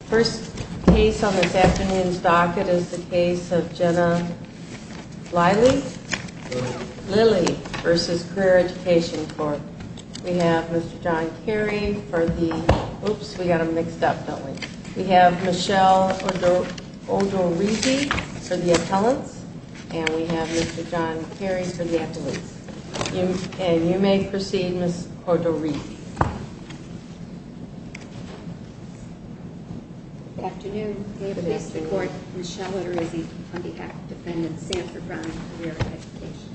The first case on this afternoon's docket is the case of Jenna Lilley v. Career Education Corp. We have Mr. John Carey for the—oops, we got them mixed up, don't we? We have Michelle Odorizzi for the appellants, and we have Mr. John Carey for the athletes. And you may proceed, Miss Odorizzi. Good afternoon. We have in this court Michelle Odorizzi on behalf of Defendant Sanford Brown v. Career Education.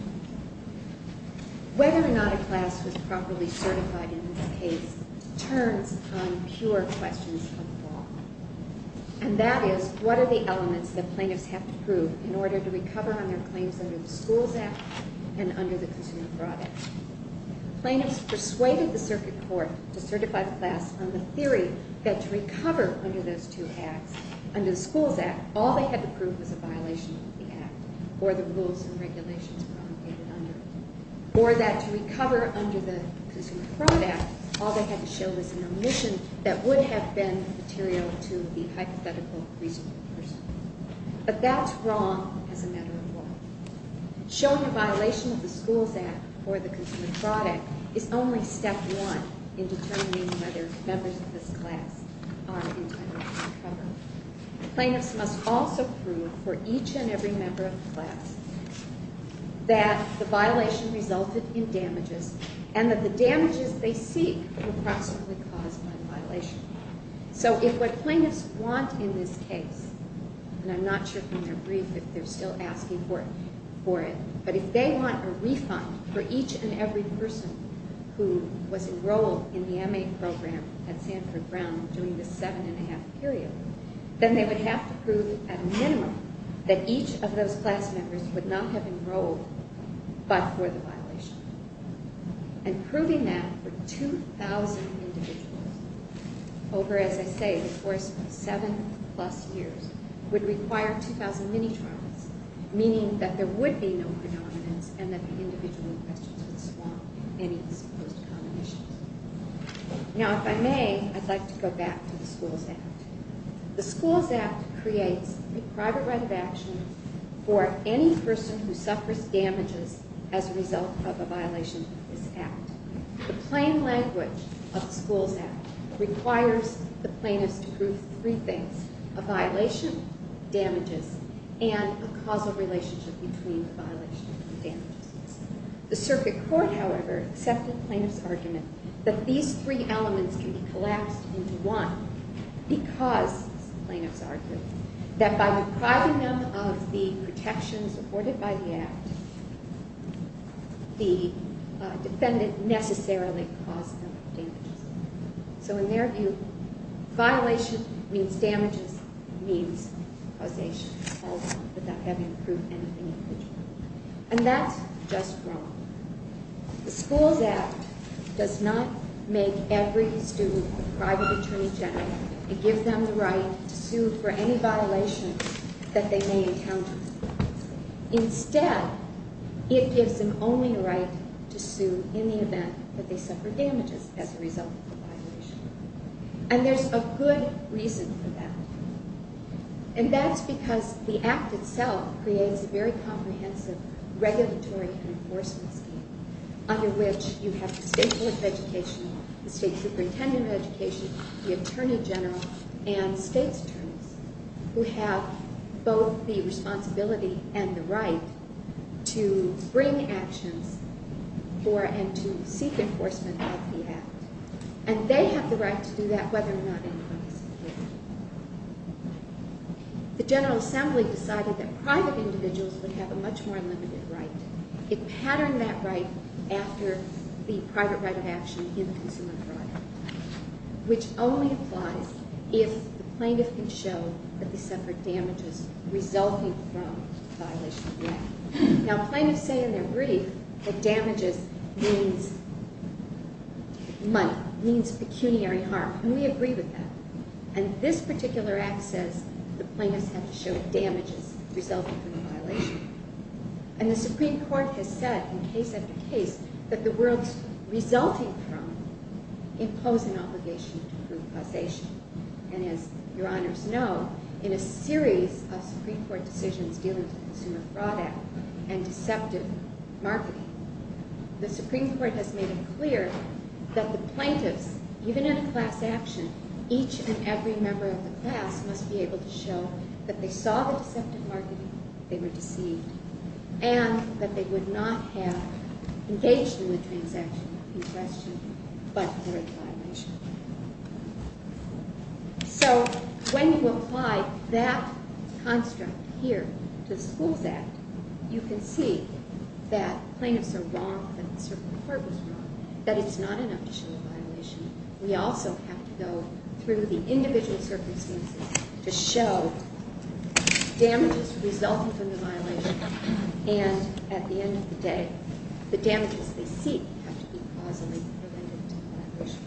Whether or not a class was properly certified in this case turns on pure questions of law. And that is, what are the elements that plaintiffs have to prove in order to recover on their claims under the Schools Act and under the Consumer Fraud Act? Plaintiffs persuaded the Circuit Court to certify the class on the theory that to recover under those two acts, under the Schools Act, all they had to prove was a violation of the Act or the rules and regulations promulgated under it. Or that to recover under the Consumer Fraud Act, all they had to show was an omission that would have been material to the hypothetical reasonable person. But that's wrong as a matter of law. Showing a violation of the Schools Act or the Consumer Fraud Act is only step one in determining whether members of this class are intended to recover. Plaintiffs must also prove for each and every member of the class that the violation resulted in damages and that the damages they seek were approximately caused by the violation. So if what plaintiffs want in this case, and I'm not sure from their brief if they're still asking for it, but if they want a refund for each and every person who was enrolled in the M.A. program at Sanford Brown during this seven and a half period, then they would have to prove at a minimum that each of those class members would not have enrolled but for the violation. And proving that for 2,000 individuals over, as I say, the course of seven plus years would require 2,000 mini-trials, meaning that there would be no predominance and that the individual in questions would swamp any supposed common issues. Now if I may, I'd like to go back to the Schools Act. The Schools Act creates a private right of action for any person who suffers damages as a result of a violation of this Act. The plain language of the Schools Act requires the plaintiffs to prove three things, a violation, damages, and a causal relationship between the violation and damages. The circuit court, however, accepted the plaintiff's argument that these three elements can be collapsed into one because, the plaintiff's argument, that by depriving them of the protections afforded by the Act, the defendant necessarily caused them damages. So in their view, violation means damages means causation without having to prove anything. And that's just wrong. The Schools Act does not make every student a private attorney general and give them the right to sue for any violation that they may encounter. Instead, it gives them only the right to sue in the event that they suffer damages as a result of the violation. And there's a good reason for that. And that's because the Act itself creates a very comprehensive regulatory and enforcement scheme under which you have the State Board of Education, the State Superintendent of Education, the Attorney General, and state's attorneys who have both the responsibility and the right to bring actions for and to seek enforcement of the Act. And they have the right to do that whether or not anyone is a victim. The General Assembly decided that private individuals would have a much more limited right. It patterned that right after the private right of action in the consumer trial, which only applies if the plaintiff can show that they suffered damages resulting from the violation of the Act. Now, plaintiffs say in their brief that damages means money, means pecuniary harm. And we agree with that. And this particular Act says the plaintiffs have to show damages resulting from the violation. And the Supreme Court has said in case after case that the words resulting from impose an obligation to prove causation. And as Your Honors know, in a series of Supreme Court decisions dealing with the Consumer Fraud Act and deceptive marketing, the Supreme Court has made it clear that the plaintiffs, even in a class action, each and every member of the class must be able to show that they saw the deceptive marketing, they were deceived, and that they would not have engaged in the transaction in question but were in violation. So when you apply that construct here to the Schools Act, you can see that plaintiffs are wrong, that the Supreme Court was wrong, that it's not enough to show a violation. And at the end of the day, the damages they seek have to be causally related to the violation.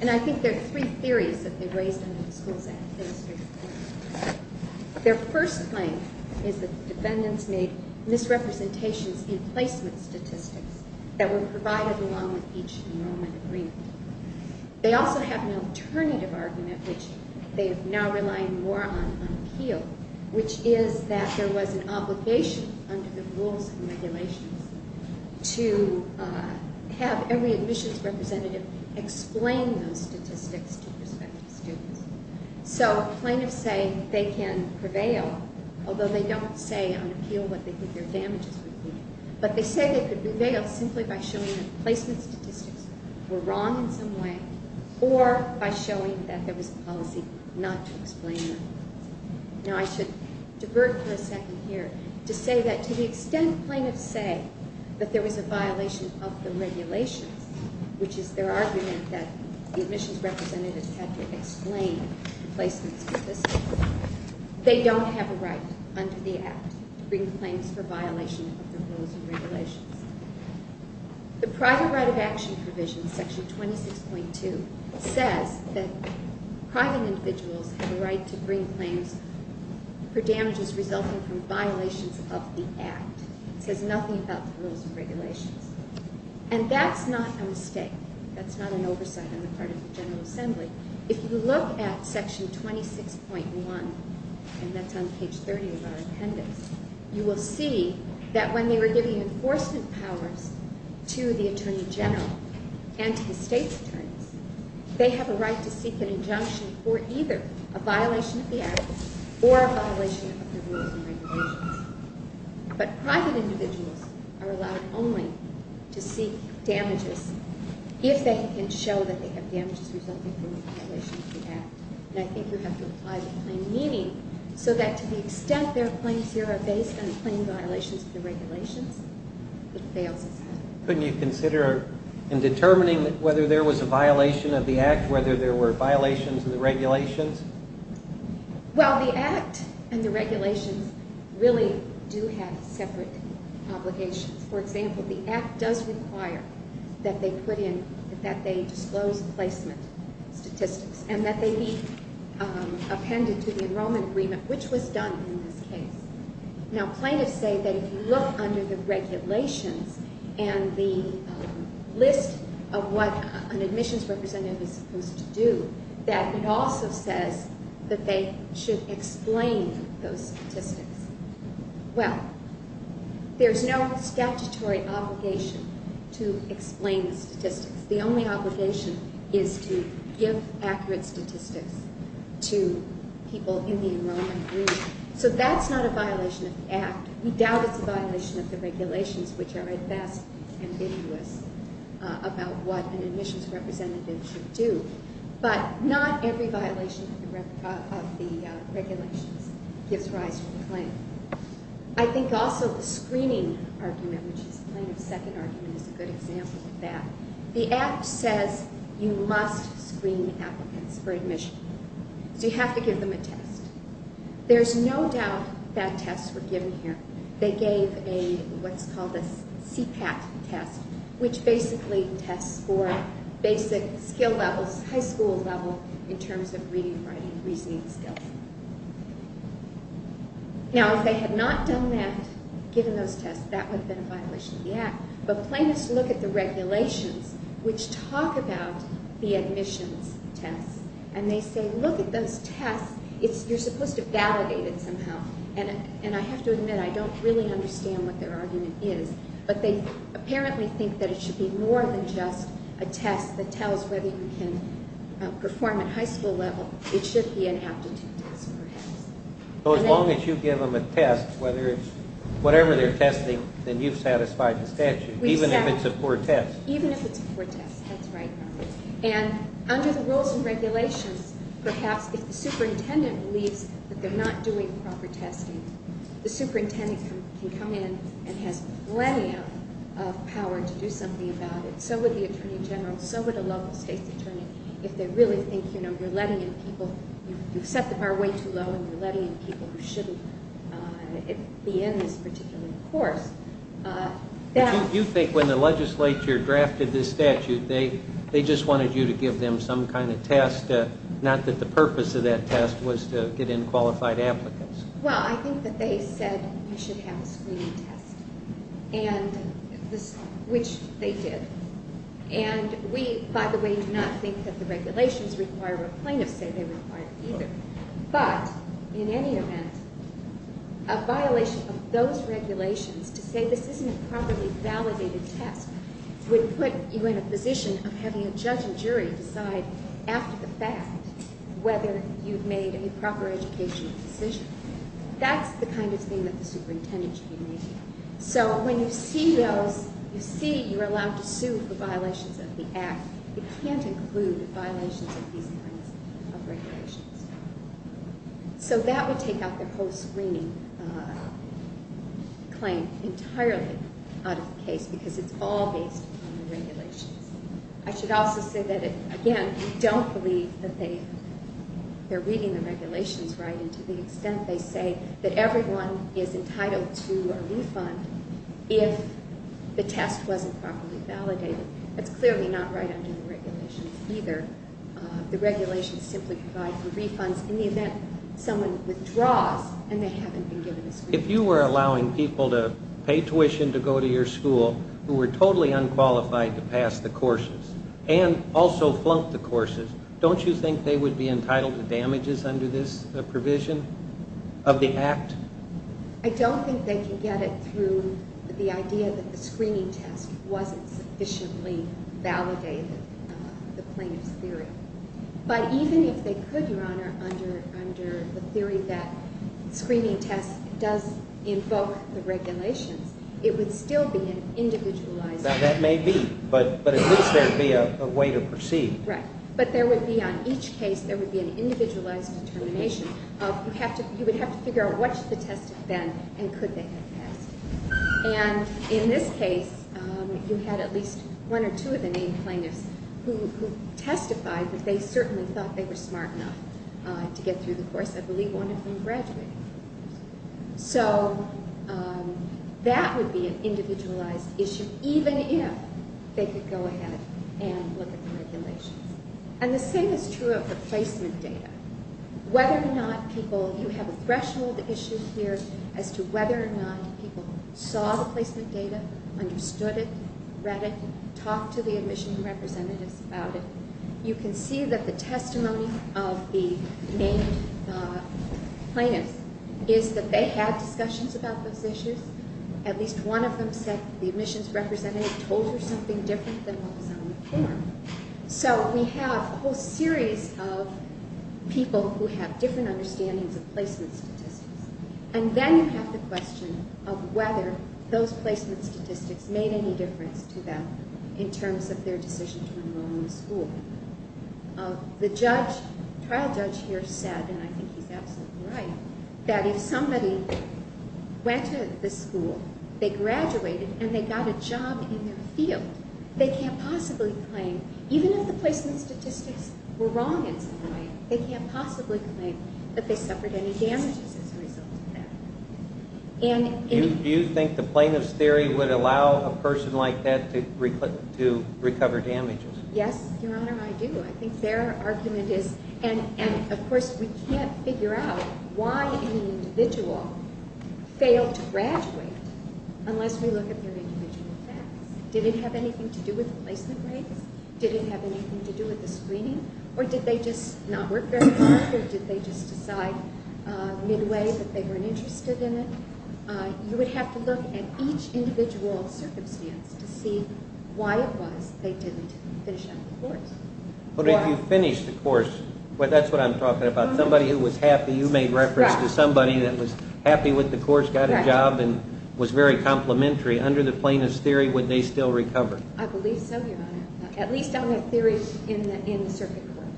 And I think there are three theories that they raise in the Schools Act. Their first claim is that defendants made misrepresentations in placement statistics that were provided along with each enrollment agreement. They also have an alternative argument, which they are now relying more on on appeal, which is that there was an obligation under the rules and regulations to have every admissions representative explain those statistics to prospective students. So plaintiffs say they can prevail, although they don't say on appeal what they think their damages would be. But they say they could prevail simply by showing that placement statistics were wrong in some way, or by showing that there was a policy not to explain them. Now I should divert for a second here to say that to the extent plaintiffs say that there was a violation of the regulations, which is their argument that the admissions representatives had to explain placement statistics, they don't have a right under the Act to bring claims for violation of the rules and regulations. The private right of action provision, section 26.2, says that private individuals have a right to bring claims for damages resulting from violations of the Act. It says nothing about the rules and regulations. And that's not a mistake. That's not an oversight on the part of the General Assembly. If you look at section 26.1, and that's on page 30 of our appendix, you will see that when they were giving enforcement powers to the Attorney General and to the state's attorneys, they have a right to seek an injunction for either a violation of the Act or a violation of the rules and regulations. But private individuals are allowed only to seek damages if they can show that they have damages resulting from a violation of the Act. And I think you have to apply the plain meaning so that to the extent their claims here are based on plain violations of the regulations, it fails. Couldn't you consider in determining whether there was a violation of the Act, whether there were violations of the regulations? Well, the Act and the regulations really do have separate obligations. For example, the Act does require that they disclose placement statistics and that they be appended to the enrollment agreement, which was done in this case. Now, plaintiffs say that if you look under the regulations and the list of what an admissions representative is supposed to do, that it also says that they should explain those statistics. Well, there's no statutory obligation to explain the statistics. The only obligation is to give accurate statistics to people in the enrollment agreement. So that's not a violation of the Act. We doubt it's a violation of the regulations, which are at best ambiguous about what an admissions representative should do. But not every violation of the regulations gives rise to a claim. I think also the screening argument, which is the plaintiff's second argument, is a good example of that. The Act says you must screen applicants for admission. So you have to give them a test. There's no doubt that tests were given here. They gave what's called a CPAT test, which basically tests for basic skill levels, high school level, in terms of reading, writing, reasoning skills. Now, if they had not done that, given those tests, that would have been a violation of the Act. But plaintiffs look at the regulations, which talk about the admissions tests, and they say, look at those tests, you're supposed to validate it somehow. And I have to admit, I don't really understand what their argument is. But they apparently think that it should be more than just a test that tells whether you can perform at high school level. It should be an aptitude test, perhaps. So as long as you give them a test, whatever they're testing, then you've satisfied the statute, even if it's a poor test. Even if it's a poor test, that's right. And under the rules and regulations, perhaps if the superintendent believes that they're not doing proper testing, the superintendent can come in and has plenty of power to do something about it. So would the attorney general. So would a local state's attorney. If they really think you're letting in people, you've set the bar way too low, and you're letting in people who shouldn't be in this particular course. Do you think when the legislature drafted this statute, they just wanted you to give them some kind of test, not that the purpose of that test was to get in qualified applicants? Well, I think that they said you should have a screening test, which they did. And we, by the way, do not think that the regulations require what plaintiffs say they require either. But in any event, a violation of those regulations to say this isn't a properly validated test would put you in a position of having a judge or jury decide after the fact whether you've made a proper educational decision. That's the kind of thing that the superintendent should be making. So when you see those, you see you're allowed to sue for violations of the Act. It can't include violations of these kinds of regulations. So that would take out their whole screening claim entirely out of the case, because it's all based on the regulations. I should also say that, again, we don't believe that they're reading the regulations right, and to the extent they say that everyone is entitled to a refund if the test wasn't properly validated. That's clearly not right under the regulations either. The regulations simply provide for refunds in the event someone withdraws and they haven't been given a screening test. If you were allowing people to pay tuition to go to your school who were totally unqualified to pass the courses and also flunk the courses, don't you think they would be entitled to damages under this provision of the Act? I don't think they can get it through the idea that the screening test wasn't sufficiently validated, the plaintiff's theory. But even if they could, Your Honor, under the theory that the screening test does invoke the regulations, that may be, but at least there would be a way to proceed. Right, but there would be on each case, there would be an individualized determination. You would have to figure out what should the test have been and could they have passed. And in this case, you had at least one or two of the named plaintiffs who testified that they certainly thought they were smart enough to get through the course. I believe one of them graduated. So that would be an individualized issue, even if they could go ahead and look at the regulations. And the same is true of the placement data. Whether or not people, you have a threshold issue here as to whether or not people saw the placement data, understood it, read it, talked to the admission representatives about it. You can see that the testimony of the named plaintiffs is that they had discussions about those issues. At least one of them said the admissions representative told her something different than what was on the form. So we have a whole series of people who have different understandings of placement statistics. And then you have the question of whether those placement statistics made any difference to them in terms of their decision to enroll in the school. The trial judge here said, and I think he's absolutely right, that if somebody went to the school, they graduated, and they got a job in their field, they can't possibly claim, even if the placement statistics were wrong in some way, they can't possibly claim that they suffered any damages as a result of that. Do you think the plaintiff's theory would allow a person like that to recover damages? Yes, Your Honor, I do. I think their argument is, and of course we can't figure out why an individual failed to graduate unless we look at their individual facts. Did it have anything to do with the placement rates? Did it have anything to do with the screening? Or did they just not work very hard? Or did they just decide midway that they weren't interested in it? You would have to look at each individual circumstance to see why it was they didn't finish up the course. But if you finished the course, that's what I'm talking about. Somebody who was happy, you made reference to somebody that was happy with the course, got a job, and was very complimentary, under the plaintiff's theory, would they still recover? I believe so, Your Honor. At least on the theory in the circuit court,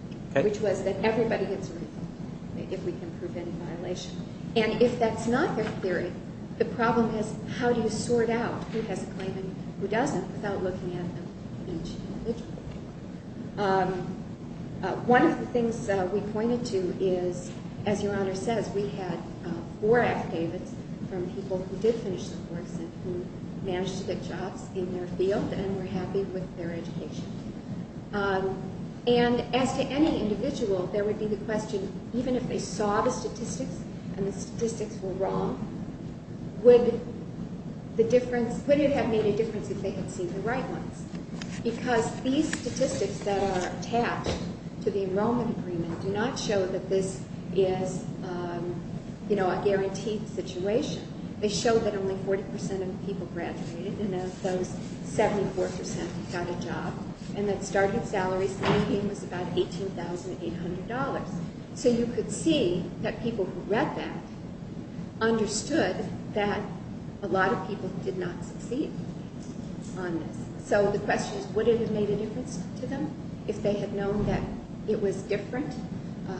which was that everybody gets a refund if we can prove any violation. And if that's not their theory, the problem is how do you sort out who has a claim and who doesn't without looking at each individual? One of the things we pointed to is, as Your Honor says, we had four affidavits from people who did finish the course and who managed to get jobs in their field and were happy with their education. And as to any individual, there would be the question, even if they saw the statistics and the statistics were wrong, would it have made a difference if they had seen the right ones? Because these statistics that are attached to the enrollment agreement do not show that this is a guaranteed situation. They show that only 40% of the people graduated, and of those, 74% got a job. And that starting salary was about $18,800. So you could see that people who read that understood that a lot of people did not succeed on this. So the question is, would it have made a difference to them if they had known that it was different,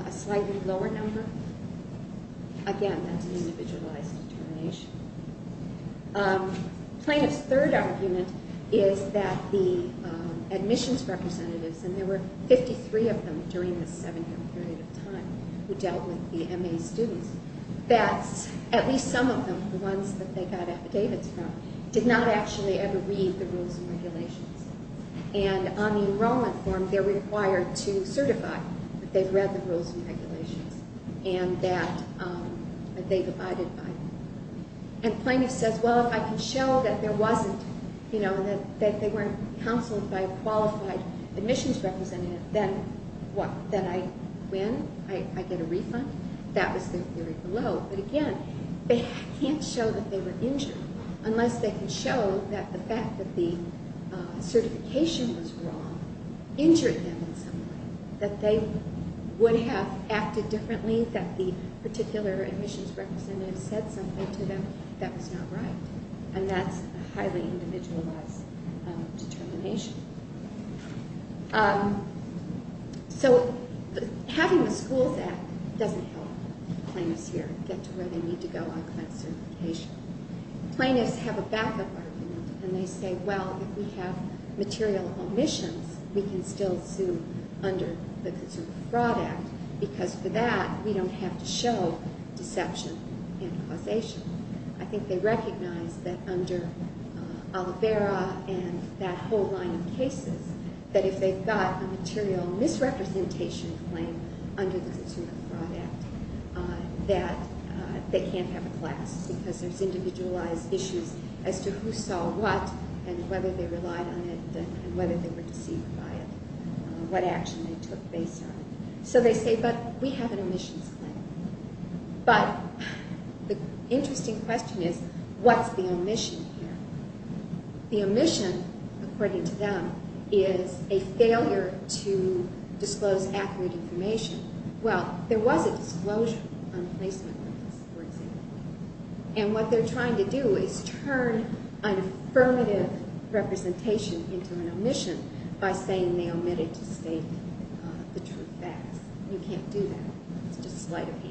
a slightly lower number? Again, that's an individualized determination. Plaintiff's third argument is that the admissions representatives, and there were 53 of them during this seven-year period of time who dealt with the MA students, that at least some of them, the ones that they got affidavits from, did not actually ever read the rules and regulations. And on the enrollment form, they're required to certify that they've read the rules and regulations and that they've abided by them. And plaintiff says, well, if I can show that there wasn't, you know, that they weren't counseled by a qualified admissions representative, then what? Then I win? I get a refund? That was the theory below. But again, they can't show that they were injured unless they can show that the fact that the certification was wrong injured them in some way, that they would have acted differently, that the particular admissions representative said something to them that was not right. And that's a highly individualized determination. So having the Schools Act doesn't help plaintiffs here get to where they need to go on client certification. Plaintiffs have a backup argument, and they say, well, if we have material omissions, we can still sue under the Consumer Fraud Act, because for that, we don't have to show deception and causation. I think they recognize that under Oliveira and that whole line of cases, that if they've got a material misrepresentation claim under the Consumer Fraud Act, that they can't have a class, because there's individualized issues as to who saw what and whether they relied on it and whether they were deceived by it, what action they took based on it. So they say, but we have an omissions claim. But the interesting question is, what's the omission here? The omission, according to them, is a failure to disclose accurate information. Well, there was a disclosure on placement limits, for example. And what they're trying to do is turn an affirmative representation into an omission by saying they omitted to state the true facts. You can't do that. It's just slight of hand.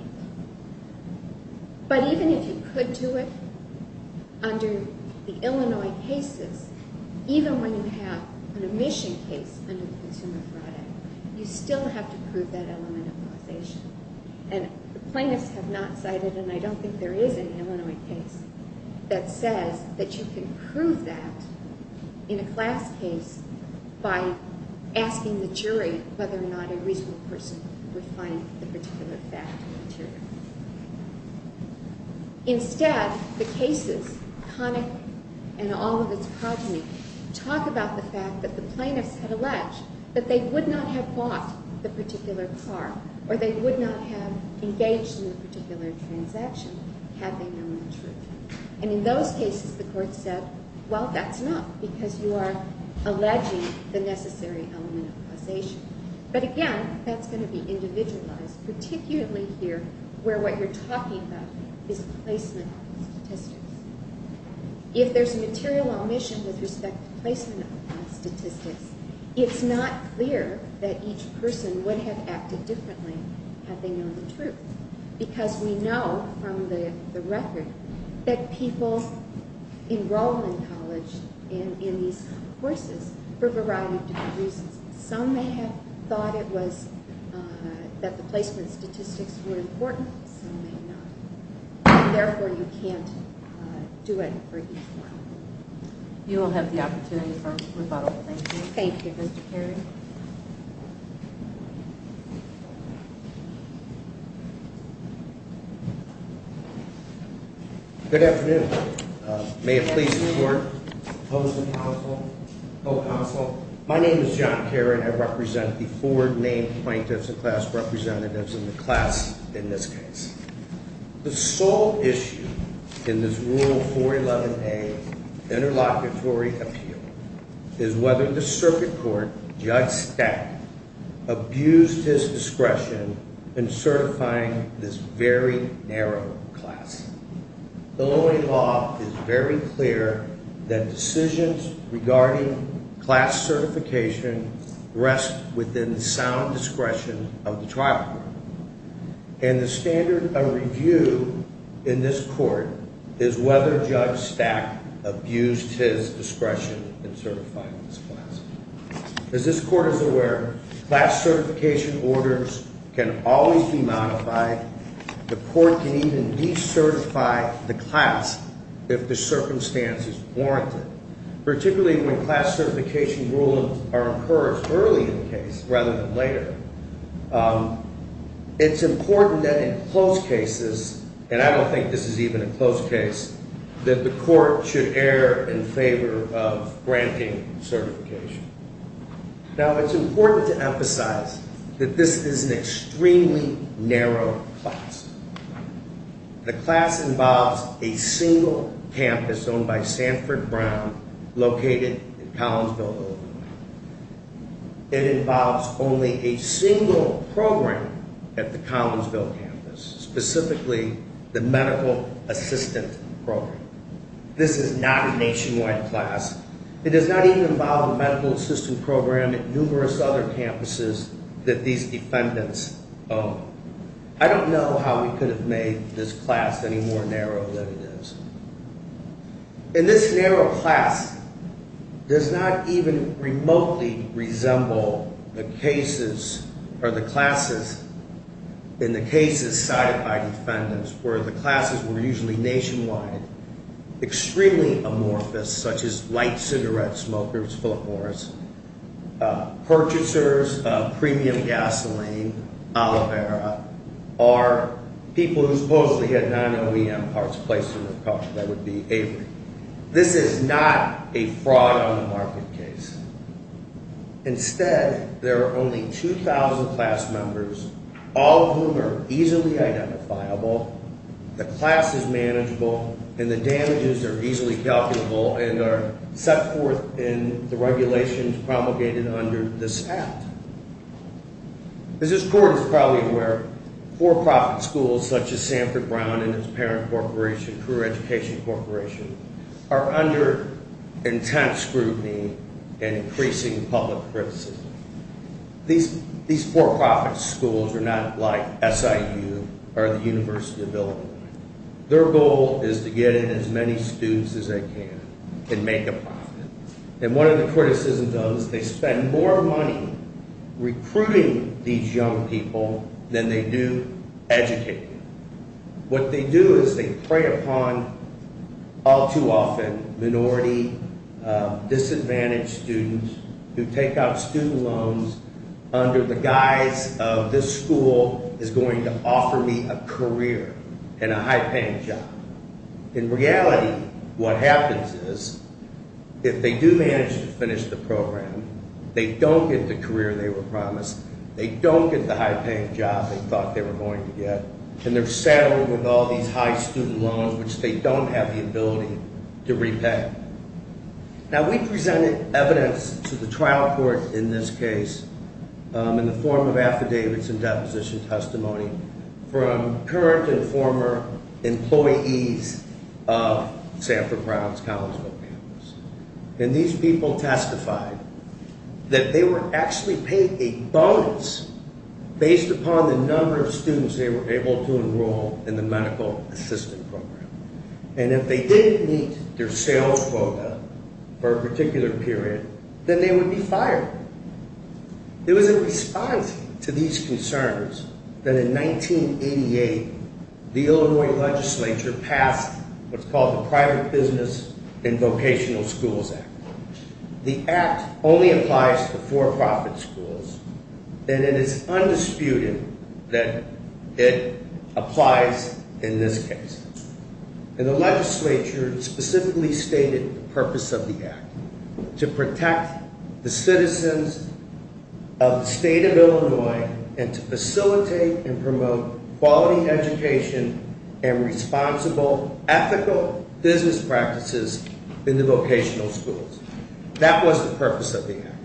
But even if you could do it under the Illinois cases, even when you have an omission case under the Consumer Fraud Act, you still have to prove that element of causation. And the plaintiffs have not cited, and I don't think there is an Illinois case that says that you can prove that in a class case by asking the jury whether or not a reasonable person would find the particular fact material. Instead, the cases, Connick and all of its progeny, talk about the fact that the plaintiffs had alleged that they would not have bought the particular car or they would not have engaged in the particular transaction had they known the truth. And in those cases, the court said, well, that's enough because you are alleging the necessary element of causation. But again, that's going to be individualized, particularly here where what you're talking about is placement statistics. If there's a material omission with respect to placement statistics, it's not clear that each person would have acted differently had they known the truth. Because we know from the record that people enroll in college in these courses for a variety of different reasons. Some may have thought it was that the placement statistics were important, some may not. Therefore, you can't do it for each one. You will have the opportunity for rebuttal. Thank you. Thank you, Mr. Carey. Good afternoon. May it please the court, opposing counsel, whole counsel. My name is John Caron. I represent the four named plaintiffs and class representatives in the class in this case. The sole issue in this Rule 411A interlocutory appeal is whether the circuit court, Judge Stack, abused his discretion in certifying this very narrow class. The law is very clear that decisions regarding class certification rest within the sound discretion of the trial court. And the standard of review in this court is whether Judge Stack abused his discretion in certifying this class. As this court is aware, class certification orders can always be modified. The court can even decertify the class if the circumstance is warranted, particularly when class certification rulings are encouraged early in the case rather than later. It's important that in close cases, and I don't think this is even a close case, that the court should err in favor of granting certification. Now, it's important to emphasize that this is an extremely narrow class. The class involves a single campus owned by Sanford Brown located in Collinsville, Illinois. It involves only a single program at the Collinsville campus, specifically the medical assistant program. This is not a nationwide class. It does not even involve the medical assistant program at numerous other campuses that these defendants own. I don't know how we could have made this class any more narrow than it is. And this narrow class does not even remotely resemble the cases or the classes in the cases cited by defendants, where the classes were usually nationwide, extremely amorphous such as light cigarette smokers, purchasers of premium gasoline, aloe vera, or people who supposedly had non-OEM parts placed in their car, that would be Avery. This is not a fraud on the market case. Instead, there are only 2,000 class members, all of whom are easily identifiable, the class is manageable, and the damages are easily calculable and are set forth in the regulations promulgated under this act. As this court is probably aware, for-profit schools such as Sanford Brown and its parent corporation, Career Education Corporation, are under intense scrutiny and increasing public criticism. These for-profit schools are not like SIU or the University of Illinois. Their goal is to get in as many students as they can and make a profit. And one of the criticisms of those, they spend more money recruiting these young people than they do educating them. What they do is they prey upon, all too often, minority, disadvantaged students who take out student loans under the guise of this school is going to offer me a career and a high-paying job. In reality, what happens is, if they do manage to finish the program, they don't get the career they were promised, they don't get the high-paying job they thought they were going to get, and they're saddled with all these high student loans which they don't have the ability to repay. Now, we presented evidence to the trial court in this case in the form of affidavits and deposition testimony from current and former employees of Sanford Brown's Collinsville campus. And these people testified that they were actually paid a bonus based upon the number of students they were able to enroll in the medical assistant program. And if they didn't meet their sales quota for a particular period, then they would be fired. It was in response to these concerns that in 1988, the Illinois legislature passed what's called the Private Business and Vocational Schools Act. The act only applies to for-profit schools, and it is undisputed that it applies in this case. And the legislature specifically stated the purpose of the act, to protect the citizens of the state of Illinois and to facilitate and promote quality education and responsible, ethical business practices in the vocational schools. That was the purpose of the act.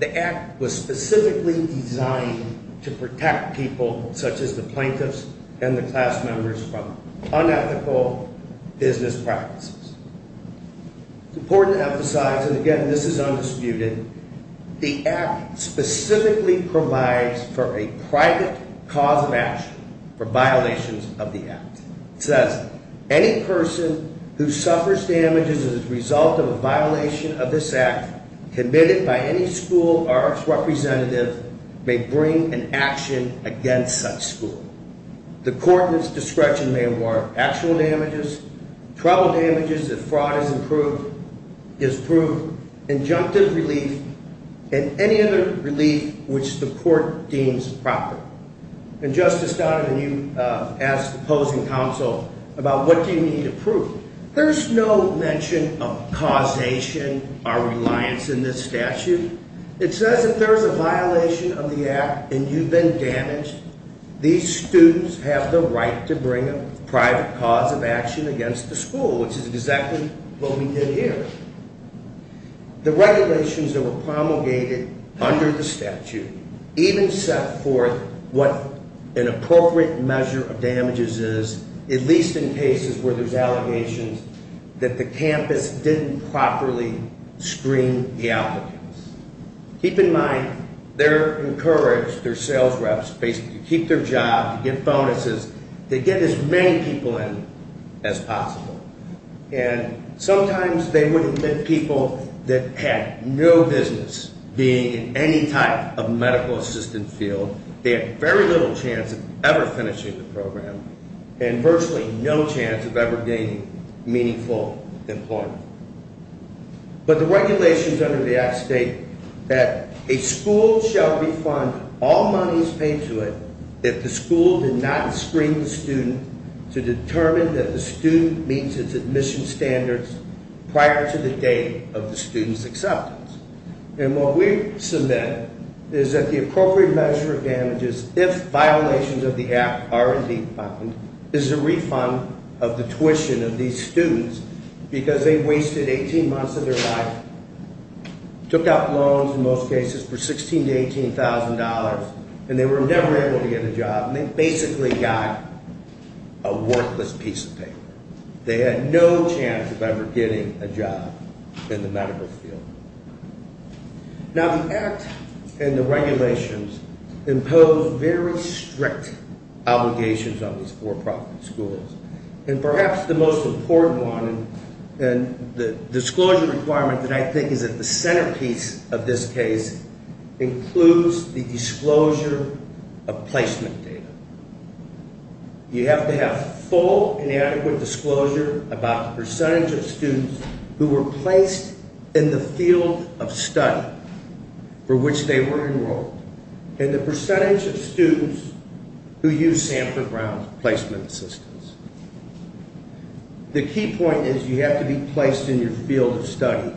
The act was specifically designed to protect people, such as the plaintiffs and the class members, from unethical business practices. It's important to emphasize, and again, this is undisputed, the act specifically provides for a private cause of action for violations of the act. It says, any person who suffers damages as a result of a violation of this act committed by any school or its representative may bring an action against such school. The court's discretion may award actual damages, trouble damages if fraud is proved, injunctive relief, and any other relief which the court deems proper. And Justice Donovan, you asked opposing counsel about what do you need to prove. There's no mention of causation or reliance in this statute. It says if there's a violation of the act and you've been damaged, these students have the right to bring a private cause of action against the school, which is exactly what we did here. The regulations that were promulgated under the statute even set forth what an appropriate measure of damages is, at least in cases where there's allegations that the campus didn't properly screen the applicants. Keep in mind, they're encouraged, they're sales reps, basically to keep their job, to give bonuses, to get as many people in as possible. And sometimes they would admit people that had no business being in any type of medical assistance field. They had very little chance of ever finishing the program and virtually no chance of ever gaining meaningful employment. But the regulations under the act state that a school shall refund all monies paid to it if the school did not screen the student to determine that the student meets its admission standards prior to the date of the student's acceptance. And what we submit is that the appropriate measure of damages, if violations of the act are indeed found, is a refund of the tuition of these students because they wasted 18 months of their life, took out loans in most cases for $16,000 to $18,000, and they were never able to get a job. And they basically got a worthless piece of paper. They had no chance of ever getting a job in the medical field. Now the act and the regulations impose very strict obligations on these for-profit schools. And perhaps the most important one and the disclosure requirement that I think is at the centerpiece of this case includes the disclosure of placement data. You have to have full and adequate disclosure about the percentage of students who were placed in the field of study for which they were enrolled and the percentage of students who used Samford Brown's placement assistance. The key point is you have to be placed in your field of study.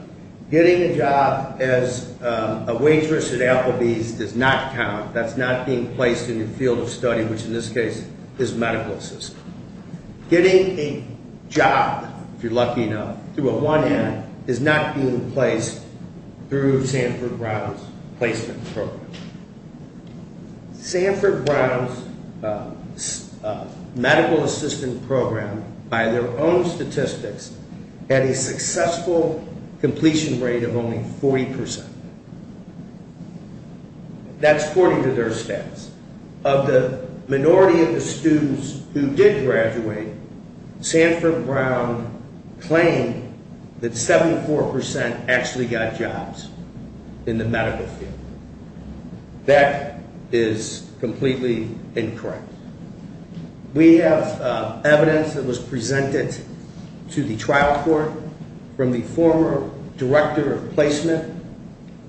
Getting a job as a waitress at Applebee's does not count. That's not being placed in your field of study, which in this case is medical assistance. Getting a job, if you're lucky enough, through a 1M is not being placed through Samford Brown's placement program. Samford Brown's medical assistance program, by their own statistics, had a successful completion rate of only 40%. That's according to their stats. Of the minority of the students who did graduate, Samford Brown claimed that 74% actually got jobs in the medical field. That is completely incorrect. We have evidence that was presented to the trial court from the former director of placement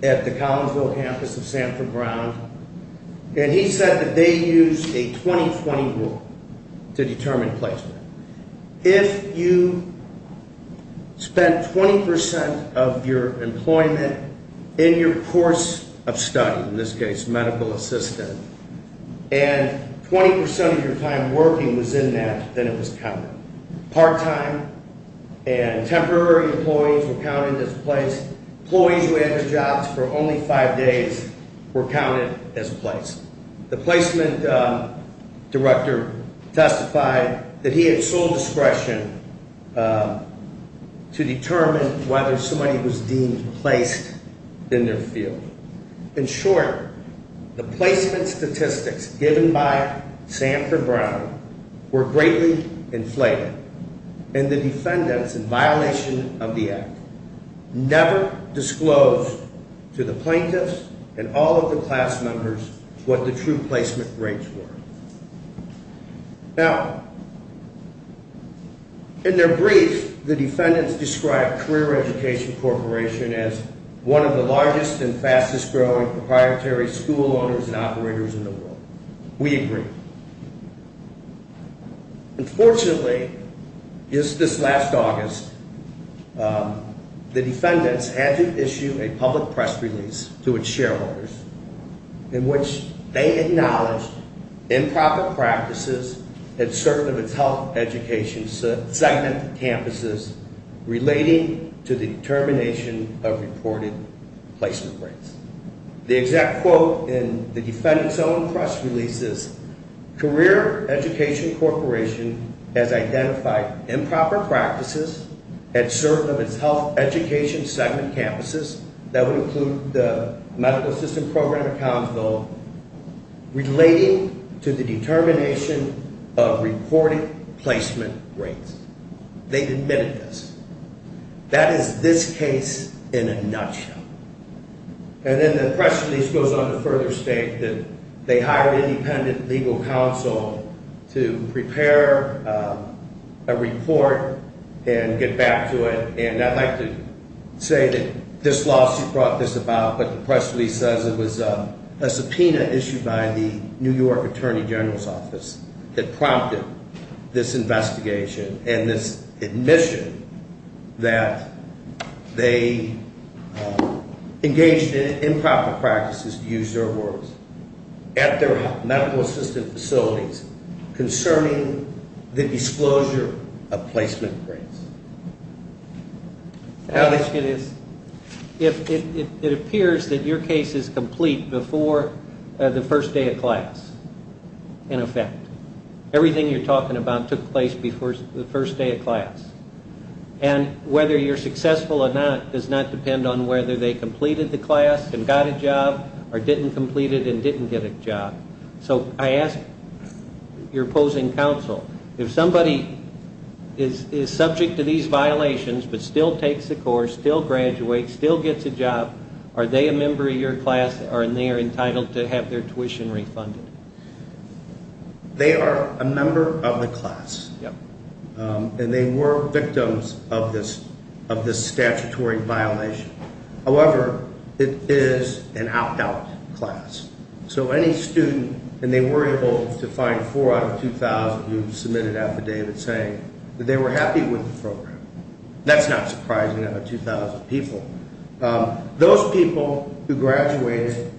at the Collinsville campus of Samford Brown. He said that they used a 20-20 rule to determine placement. If you spent 20% of your employment in your course of study, in this case medical assistance, and 20% of your time working was in that, then it was covered. Part-time and temporary employees were counted as placed. Employees who had their jobs for only five days were counted as placed. The placement director testified that he had sole discretion to determine whether somebody was deemed placed in their field. In short, the placement statistics given by Samford Brown were greatly inflated, and the defendants, in violation of the act, never disclosed to the plaintiffs and all of the class members what the true placement rates were. Now, in their brief, the defendants described Career Education Corporation as one of the largest and fastest-growing proprietary school owners and operators in the world. We agree. Unfortunately, just this last August, the defendants had to issue a public press release to its shareholders in which they acknowledged improper practices at certain of its health education segment campuses relating to the determination of reported placement rates. The exact quote in the defendant's own press release is, Career Education Corporation has identified improper practices at certain of its health education segment campuses that would include the Medical Assistance Program at Collinsville relating to the determination of reported placement rates. They admitted this. That is this case in a nutshell. And then the press release goes on to further state that they hired independent legal counsel to prepare a report and get back to it. And I'd like to say that this lawsuit brought this about, but the press release says it was a subpoena issued by the New York Attorney General's Office that prompted this investigation and this admission that they engaged in improper practices, to use their words, at their medical assistance facilities concerning the disclosure of placement rates. Alex, it appears that your case is complete before the first day of class, in effect. Everything you're talking about took place before the first day of class. And whether you're successful or not does not depend on whether they completed the class and got a job or didn't complete it and didn't get a job. So I ask your opposing counsel, if somebody is subject to these violations but still takes the course, still graduates, still gets a job, are they a member of your class and they are entitled to have their tuition refunded? They are a member of the class. And they were victims of this statutory violation. However, it is an opt-out class. So any student, and they were able to find four out of 2,000 who submitted affidavits saying that they were happy with the program. That's not surprising out of 2,000 people. Those people who graduated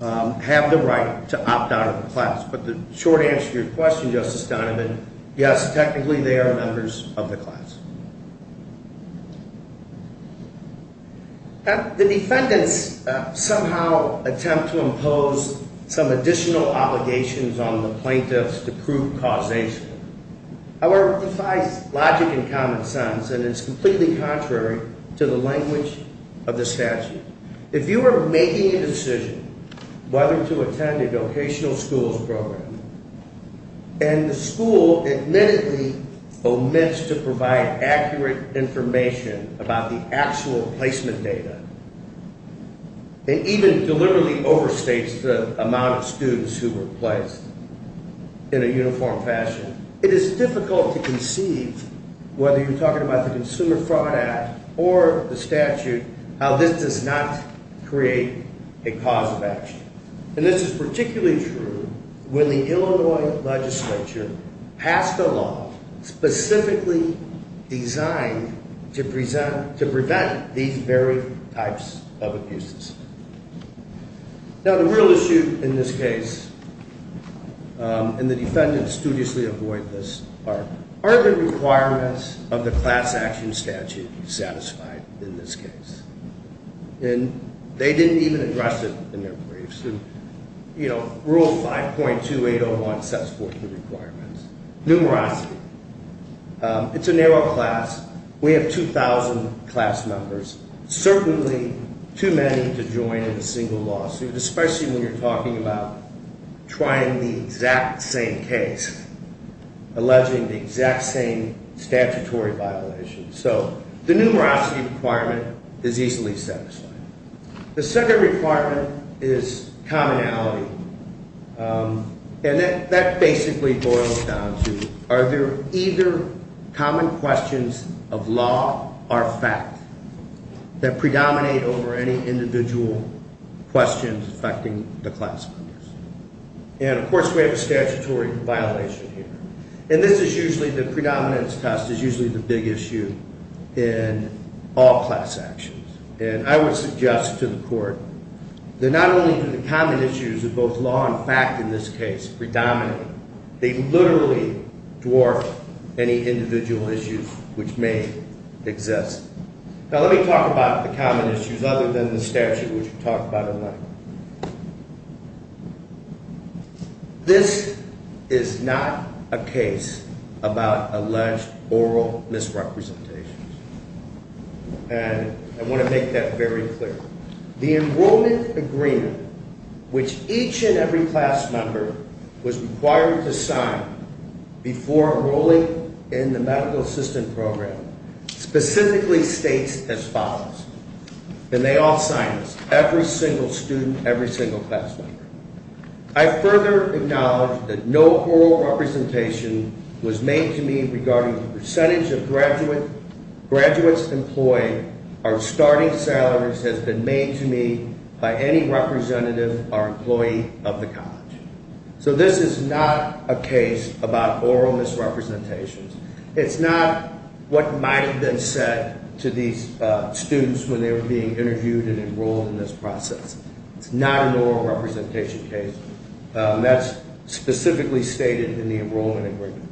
have the right to opt out of the class. But the short answer to your question, Justice Donovan, yes, technically they are members of the class. The defendants somehow attempt to impose some additional obligations on the plaintiffs to prove causation. However, it defies logic and common sense, and it's completely contrary to the language of the statute. If you are making a decision whether to attend a vocational schools program and the school admittedly oments to provide accurate information about the actual placement data and even deliberately overstates the amount of students who were placed in a uniform fashion, it is difficult to conceive, whether you're talking about the Consumer Fraud Act or the statute, how this does not create a cause of action. And this is particularly true when the Illinois legislature passed a law specifically designed to prevent these very types of abuses. Now, the real issue in this case, and the defendants studiously avoid this, are the requirements of the class action statute satisfied in this case. And they didn't even address it in their briefs. Rule 5.2801 sets forth the requirements. Numerosity. It's a narrow class. We have 2,000 class members, certainly too many to join in a single lawsuit, especially when you're talking about trying the exact same case, alleging the exact same statutory violation. So the numerosity requirement is easily satisfied. The second requirement is commonality. And that basically boils down to are there either common questions of law or fact that predominate over any individual questions affecting the class members? And, of course, we have a statutory violation here. And this is usually the predominance test is usually the big issue in all class actions. And I would suggest to the court that not only do the common issues of both law and fact in this case predominate, they literally dwarf any individual issues which may exist. Now let me talk about the common issues other than the statute, which we've talked about in length. This is not a case about alleged oral misrepresentations. And I want to make that very clear. The enrollment agreement, which each and every class member was required to sign before enrolling in the medical assistant program, specifically states as follows. And they all signed this, every single student, every single class member. I further acknowledge that no oral representation was made to me regarding the percentage of graduates employed or starting salaries has been made to me by any representative or employee of the college. So this is not a case about oral misrepresentations. It's not what might have been said to these students when they were being interviewed and enrolled in this process. It's not an oral representation case. That's specifically stated in the enrollment agreement.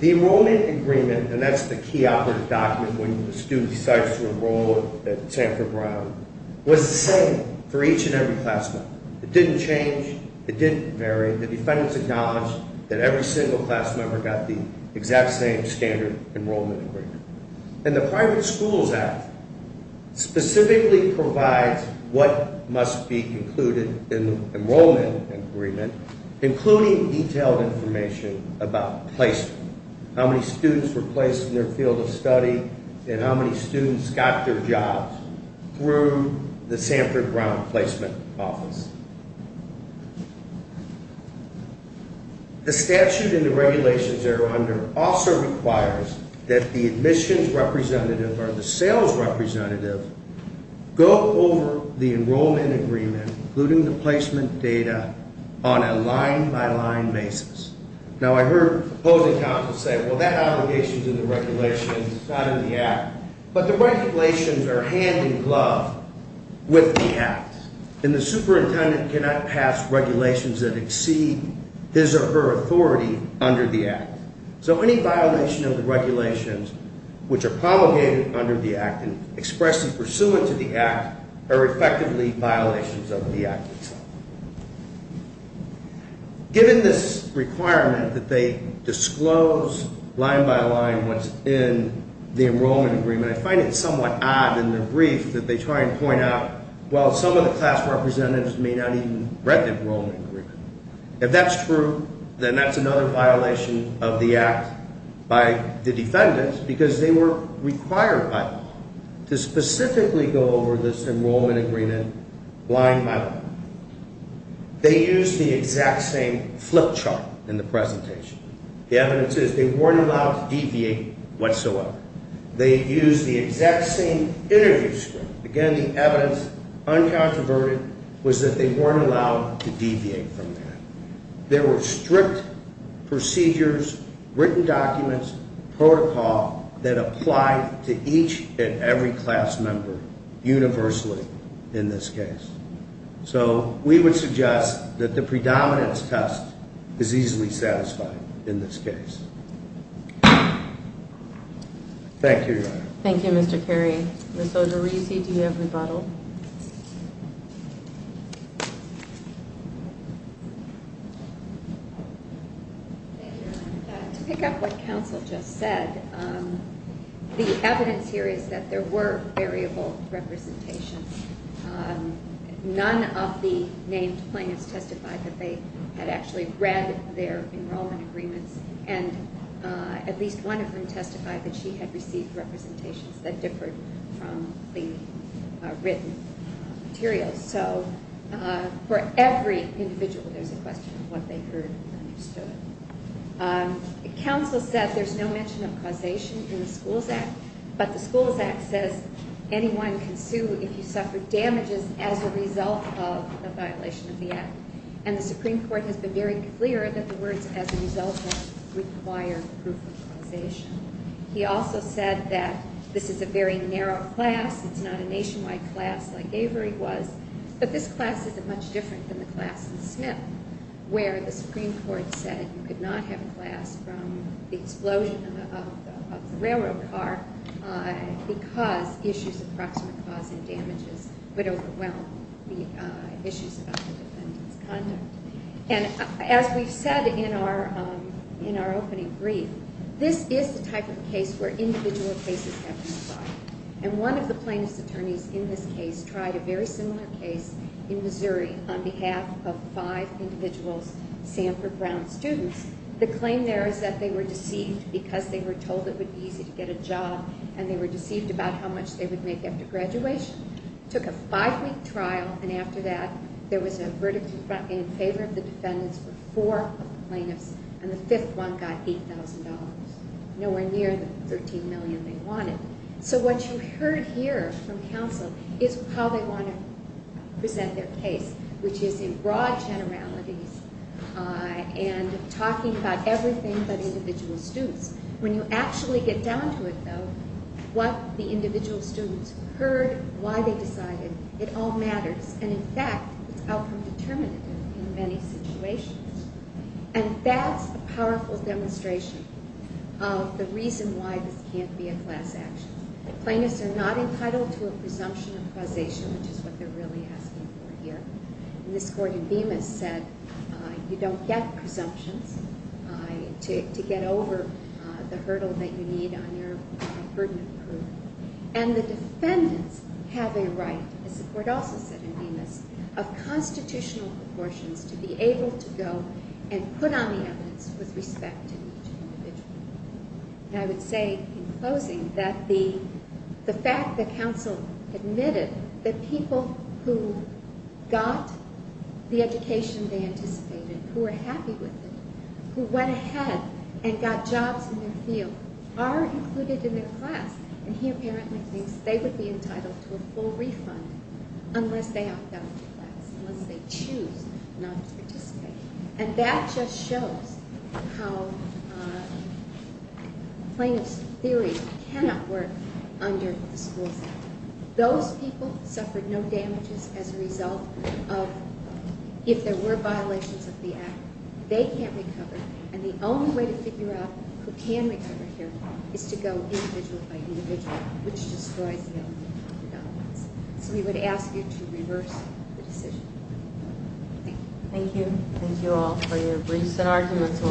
The enrollment agreement, and that's the key operative document when a student decides to enroll at Sanford Brown, was the same for each and every class member. It didn't change. It didn't vary. The defendants acknowledged that every single class member got the exact same standard enrollment agreement. And the Private Schools Act specifically provides what must be included in the enrollment agreement, including detailed information about placement, how many students were placed in their field of study, and how many students got their jobs through the Sanford Brown placement office. The statute and the regulations they're under also requires that the admissions representative or the sales representative go over the enrollment agreement, including the placement data, on a line-by-line basis. Now, I heard opposing counsel say, well, that obligation's in the regulations, not in the Act. But the regulations are hand-in-glove with the Act. And the superintendent cannot pass regulations that exceed his or her authority under the Act. So any violation of the regulations which are promulgated under the Act and expressly pursuant to the Act are effectively violations of the Act itself. Given this requirement that they disclose line-by-line what's in the enrollment agreement, I find it somewhat odd in the brief that they try and point out, well, some of the class representatives may not even have read the enrollment agreement. If that's true, then that's another violation of the Act by the defendants, because they were required by law to specifically go over this enrollment agreement line-by-line. They used the exact same flip chart in the presentation. The evidence is they weren't allowed to deviate whatsoever. They used the exact same interview script. Again, the evidence, uncontroverted, was that they weren't allowed to deviate from that. There were strict procedures, written documents, protocol that applied to each and every class member universally in this case. So we would suggest that the predominance test is easily satisfied in this case. Thank you, Your Honor. Thank you, Mr. Carey. Ms. Odorisi, do you have rebuttal? Thank you, Your Honor. To pick up what counsel just said, the evidence here is that there were variable representations. None of the named plaintiffs testified that they had actually read their enrollment agreements, and at least one of them testified that she had received representations that differed from the written materials. So for every individual, there's a question of what they heard and understood. Counsel said there's no mention of causation in the Schools Act, but the Schools Act says anyone can sue if you suffer damages as a result of a violation of the Act. And the Supreme Court has been very clear that the words, as a result of, require proof of causation. He also said that this is a very narrow class. It's not a nationwide class like Avery was, but this class is much different than the class in Smith, where the Supreme Court said you could not have a class from the explosion of the railroad car because issues of proximate cause and damages would overwhelm the issues about the defendant's conduct. And as we've said in our opening brief, this is the type of case where individual cases have been applied, and one of the plaintiff's attorneys in this case tried a very similar case in Missouri on behalf of five individuals, Sanford Brown students. The claim there is that they were deceived because they were told it would be easy to get a job, and they were deceived about how much they would make after graduation. Took a five-week trial, and after that, there was a verdict in favor of the defendants for four plaintiffs, and the fifth one got $8,000, nowhere near the $13 million they wanted. So what you heard here from counsel is how they want to present their case, which is in broad generalities and talking about everything but individual students. When you actually get down to it, though, what the individual students heard, why they decided, it all matters. And in fact, it's outcome determinative in many situations. And that's a powerful demonstration of the reason why this can't be a class action. Plaintiffs are not entitled to a presumption of causation, which is what they're really asking for here. And this court in Bemis said you don't get presumptions to get over the hurdle that you need on your burden of proof. And the defendants have a right, as the court also said in Bemis, of constitutional proportions to be able to go and put on the evidence with respect to each individual. I would say, in closing, that the fact that counsel admitted that people who got the education they anticipated, who were happy with it, who went ahead and got jobs in their field, are included in their class, and he apparently thinks they would be entitled to a full refund unless they opt out of the class, unless they choose not to participate. And that just shows how plaintiffs' theory cannot work under the Schools Act. Those people suffered no damages as a result of, if there were violations of the Act, they can't recover. And the only way to figure out who can recover here is to go individual by individual, which destroys the element of predominance. So we would ask you to reverse the decision. Thank you. Thank you all for your briefs and arguments.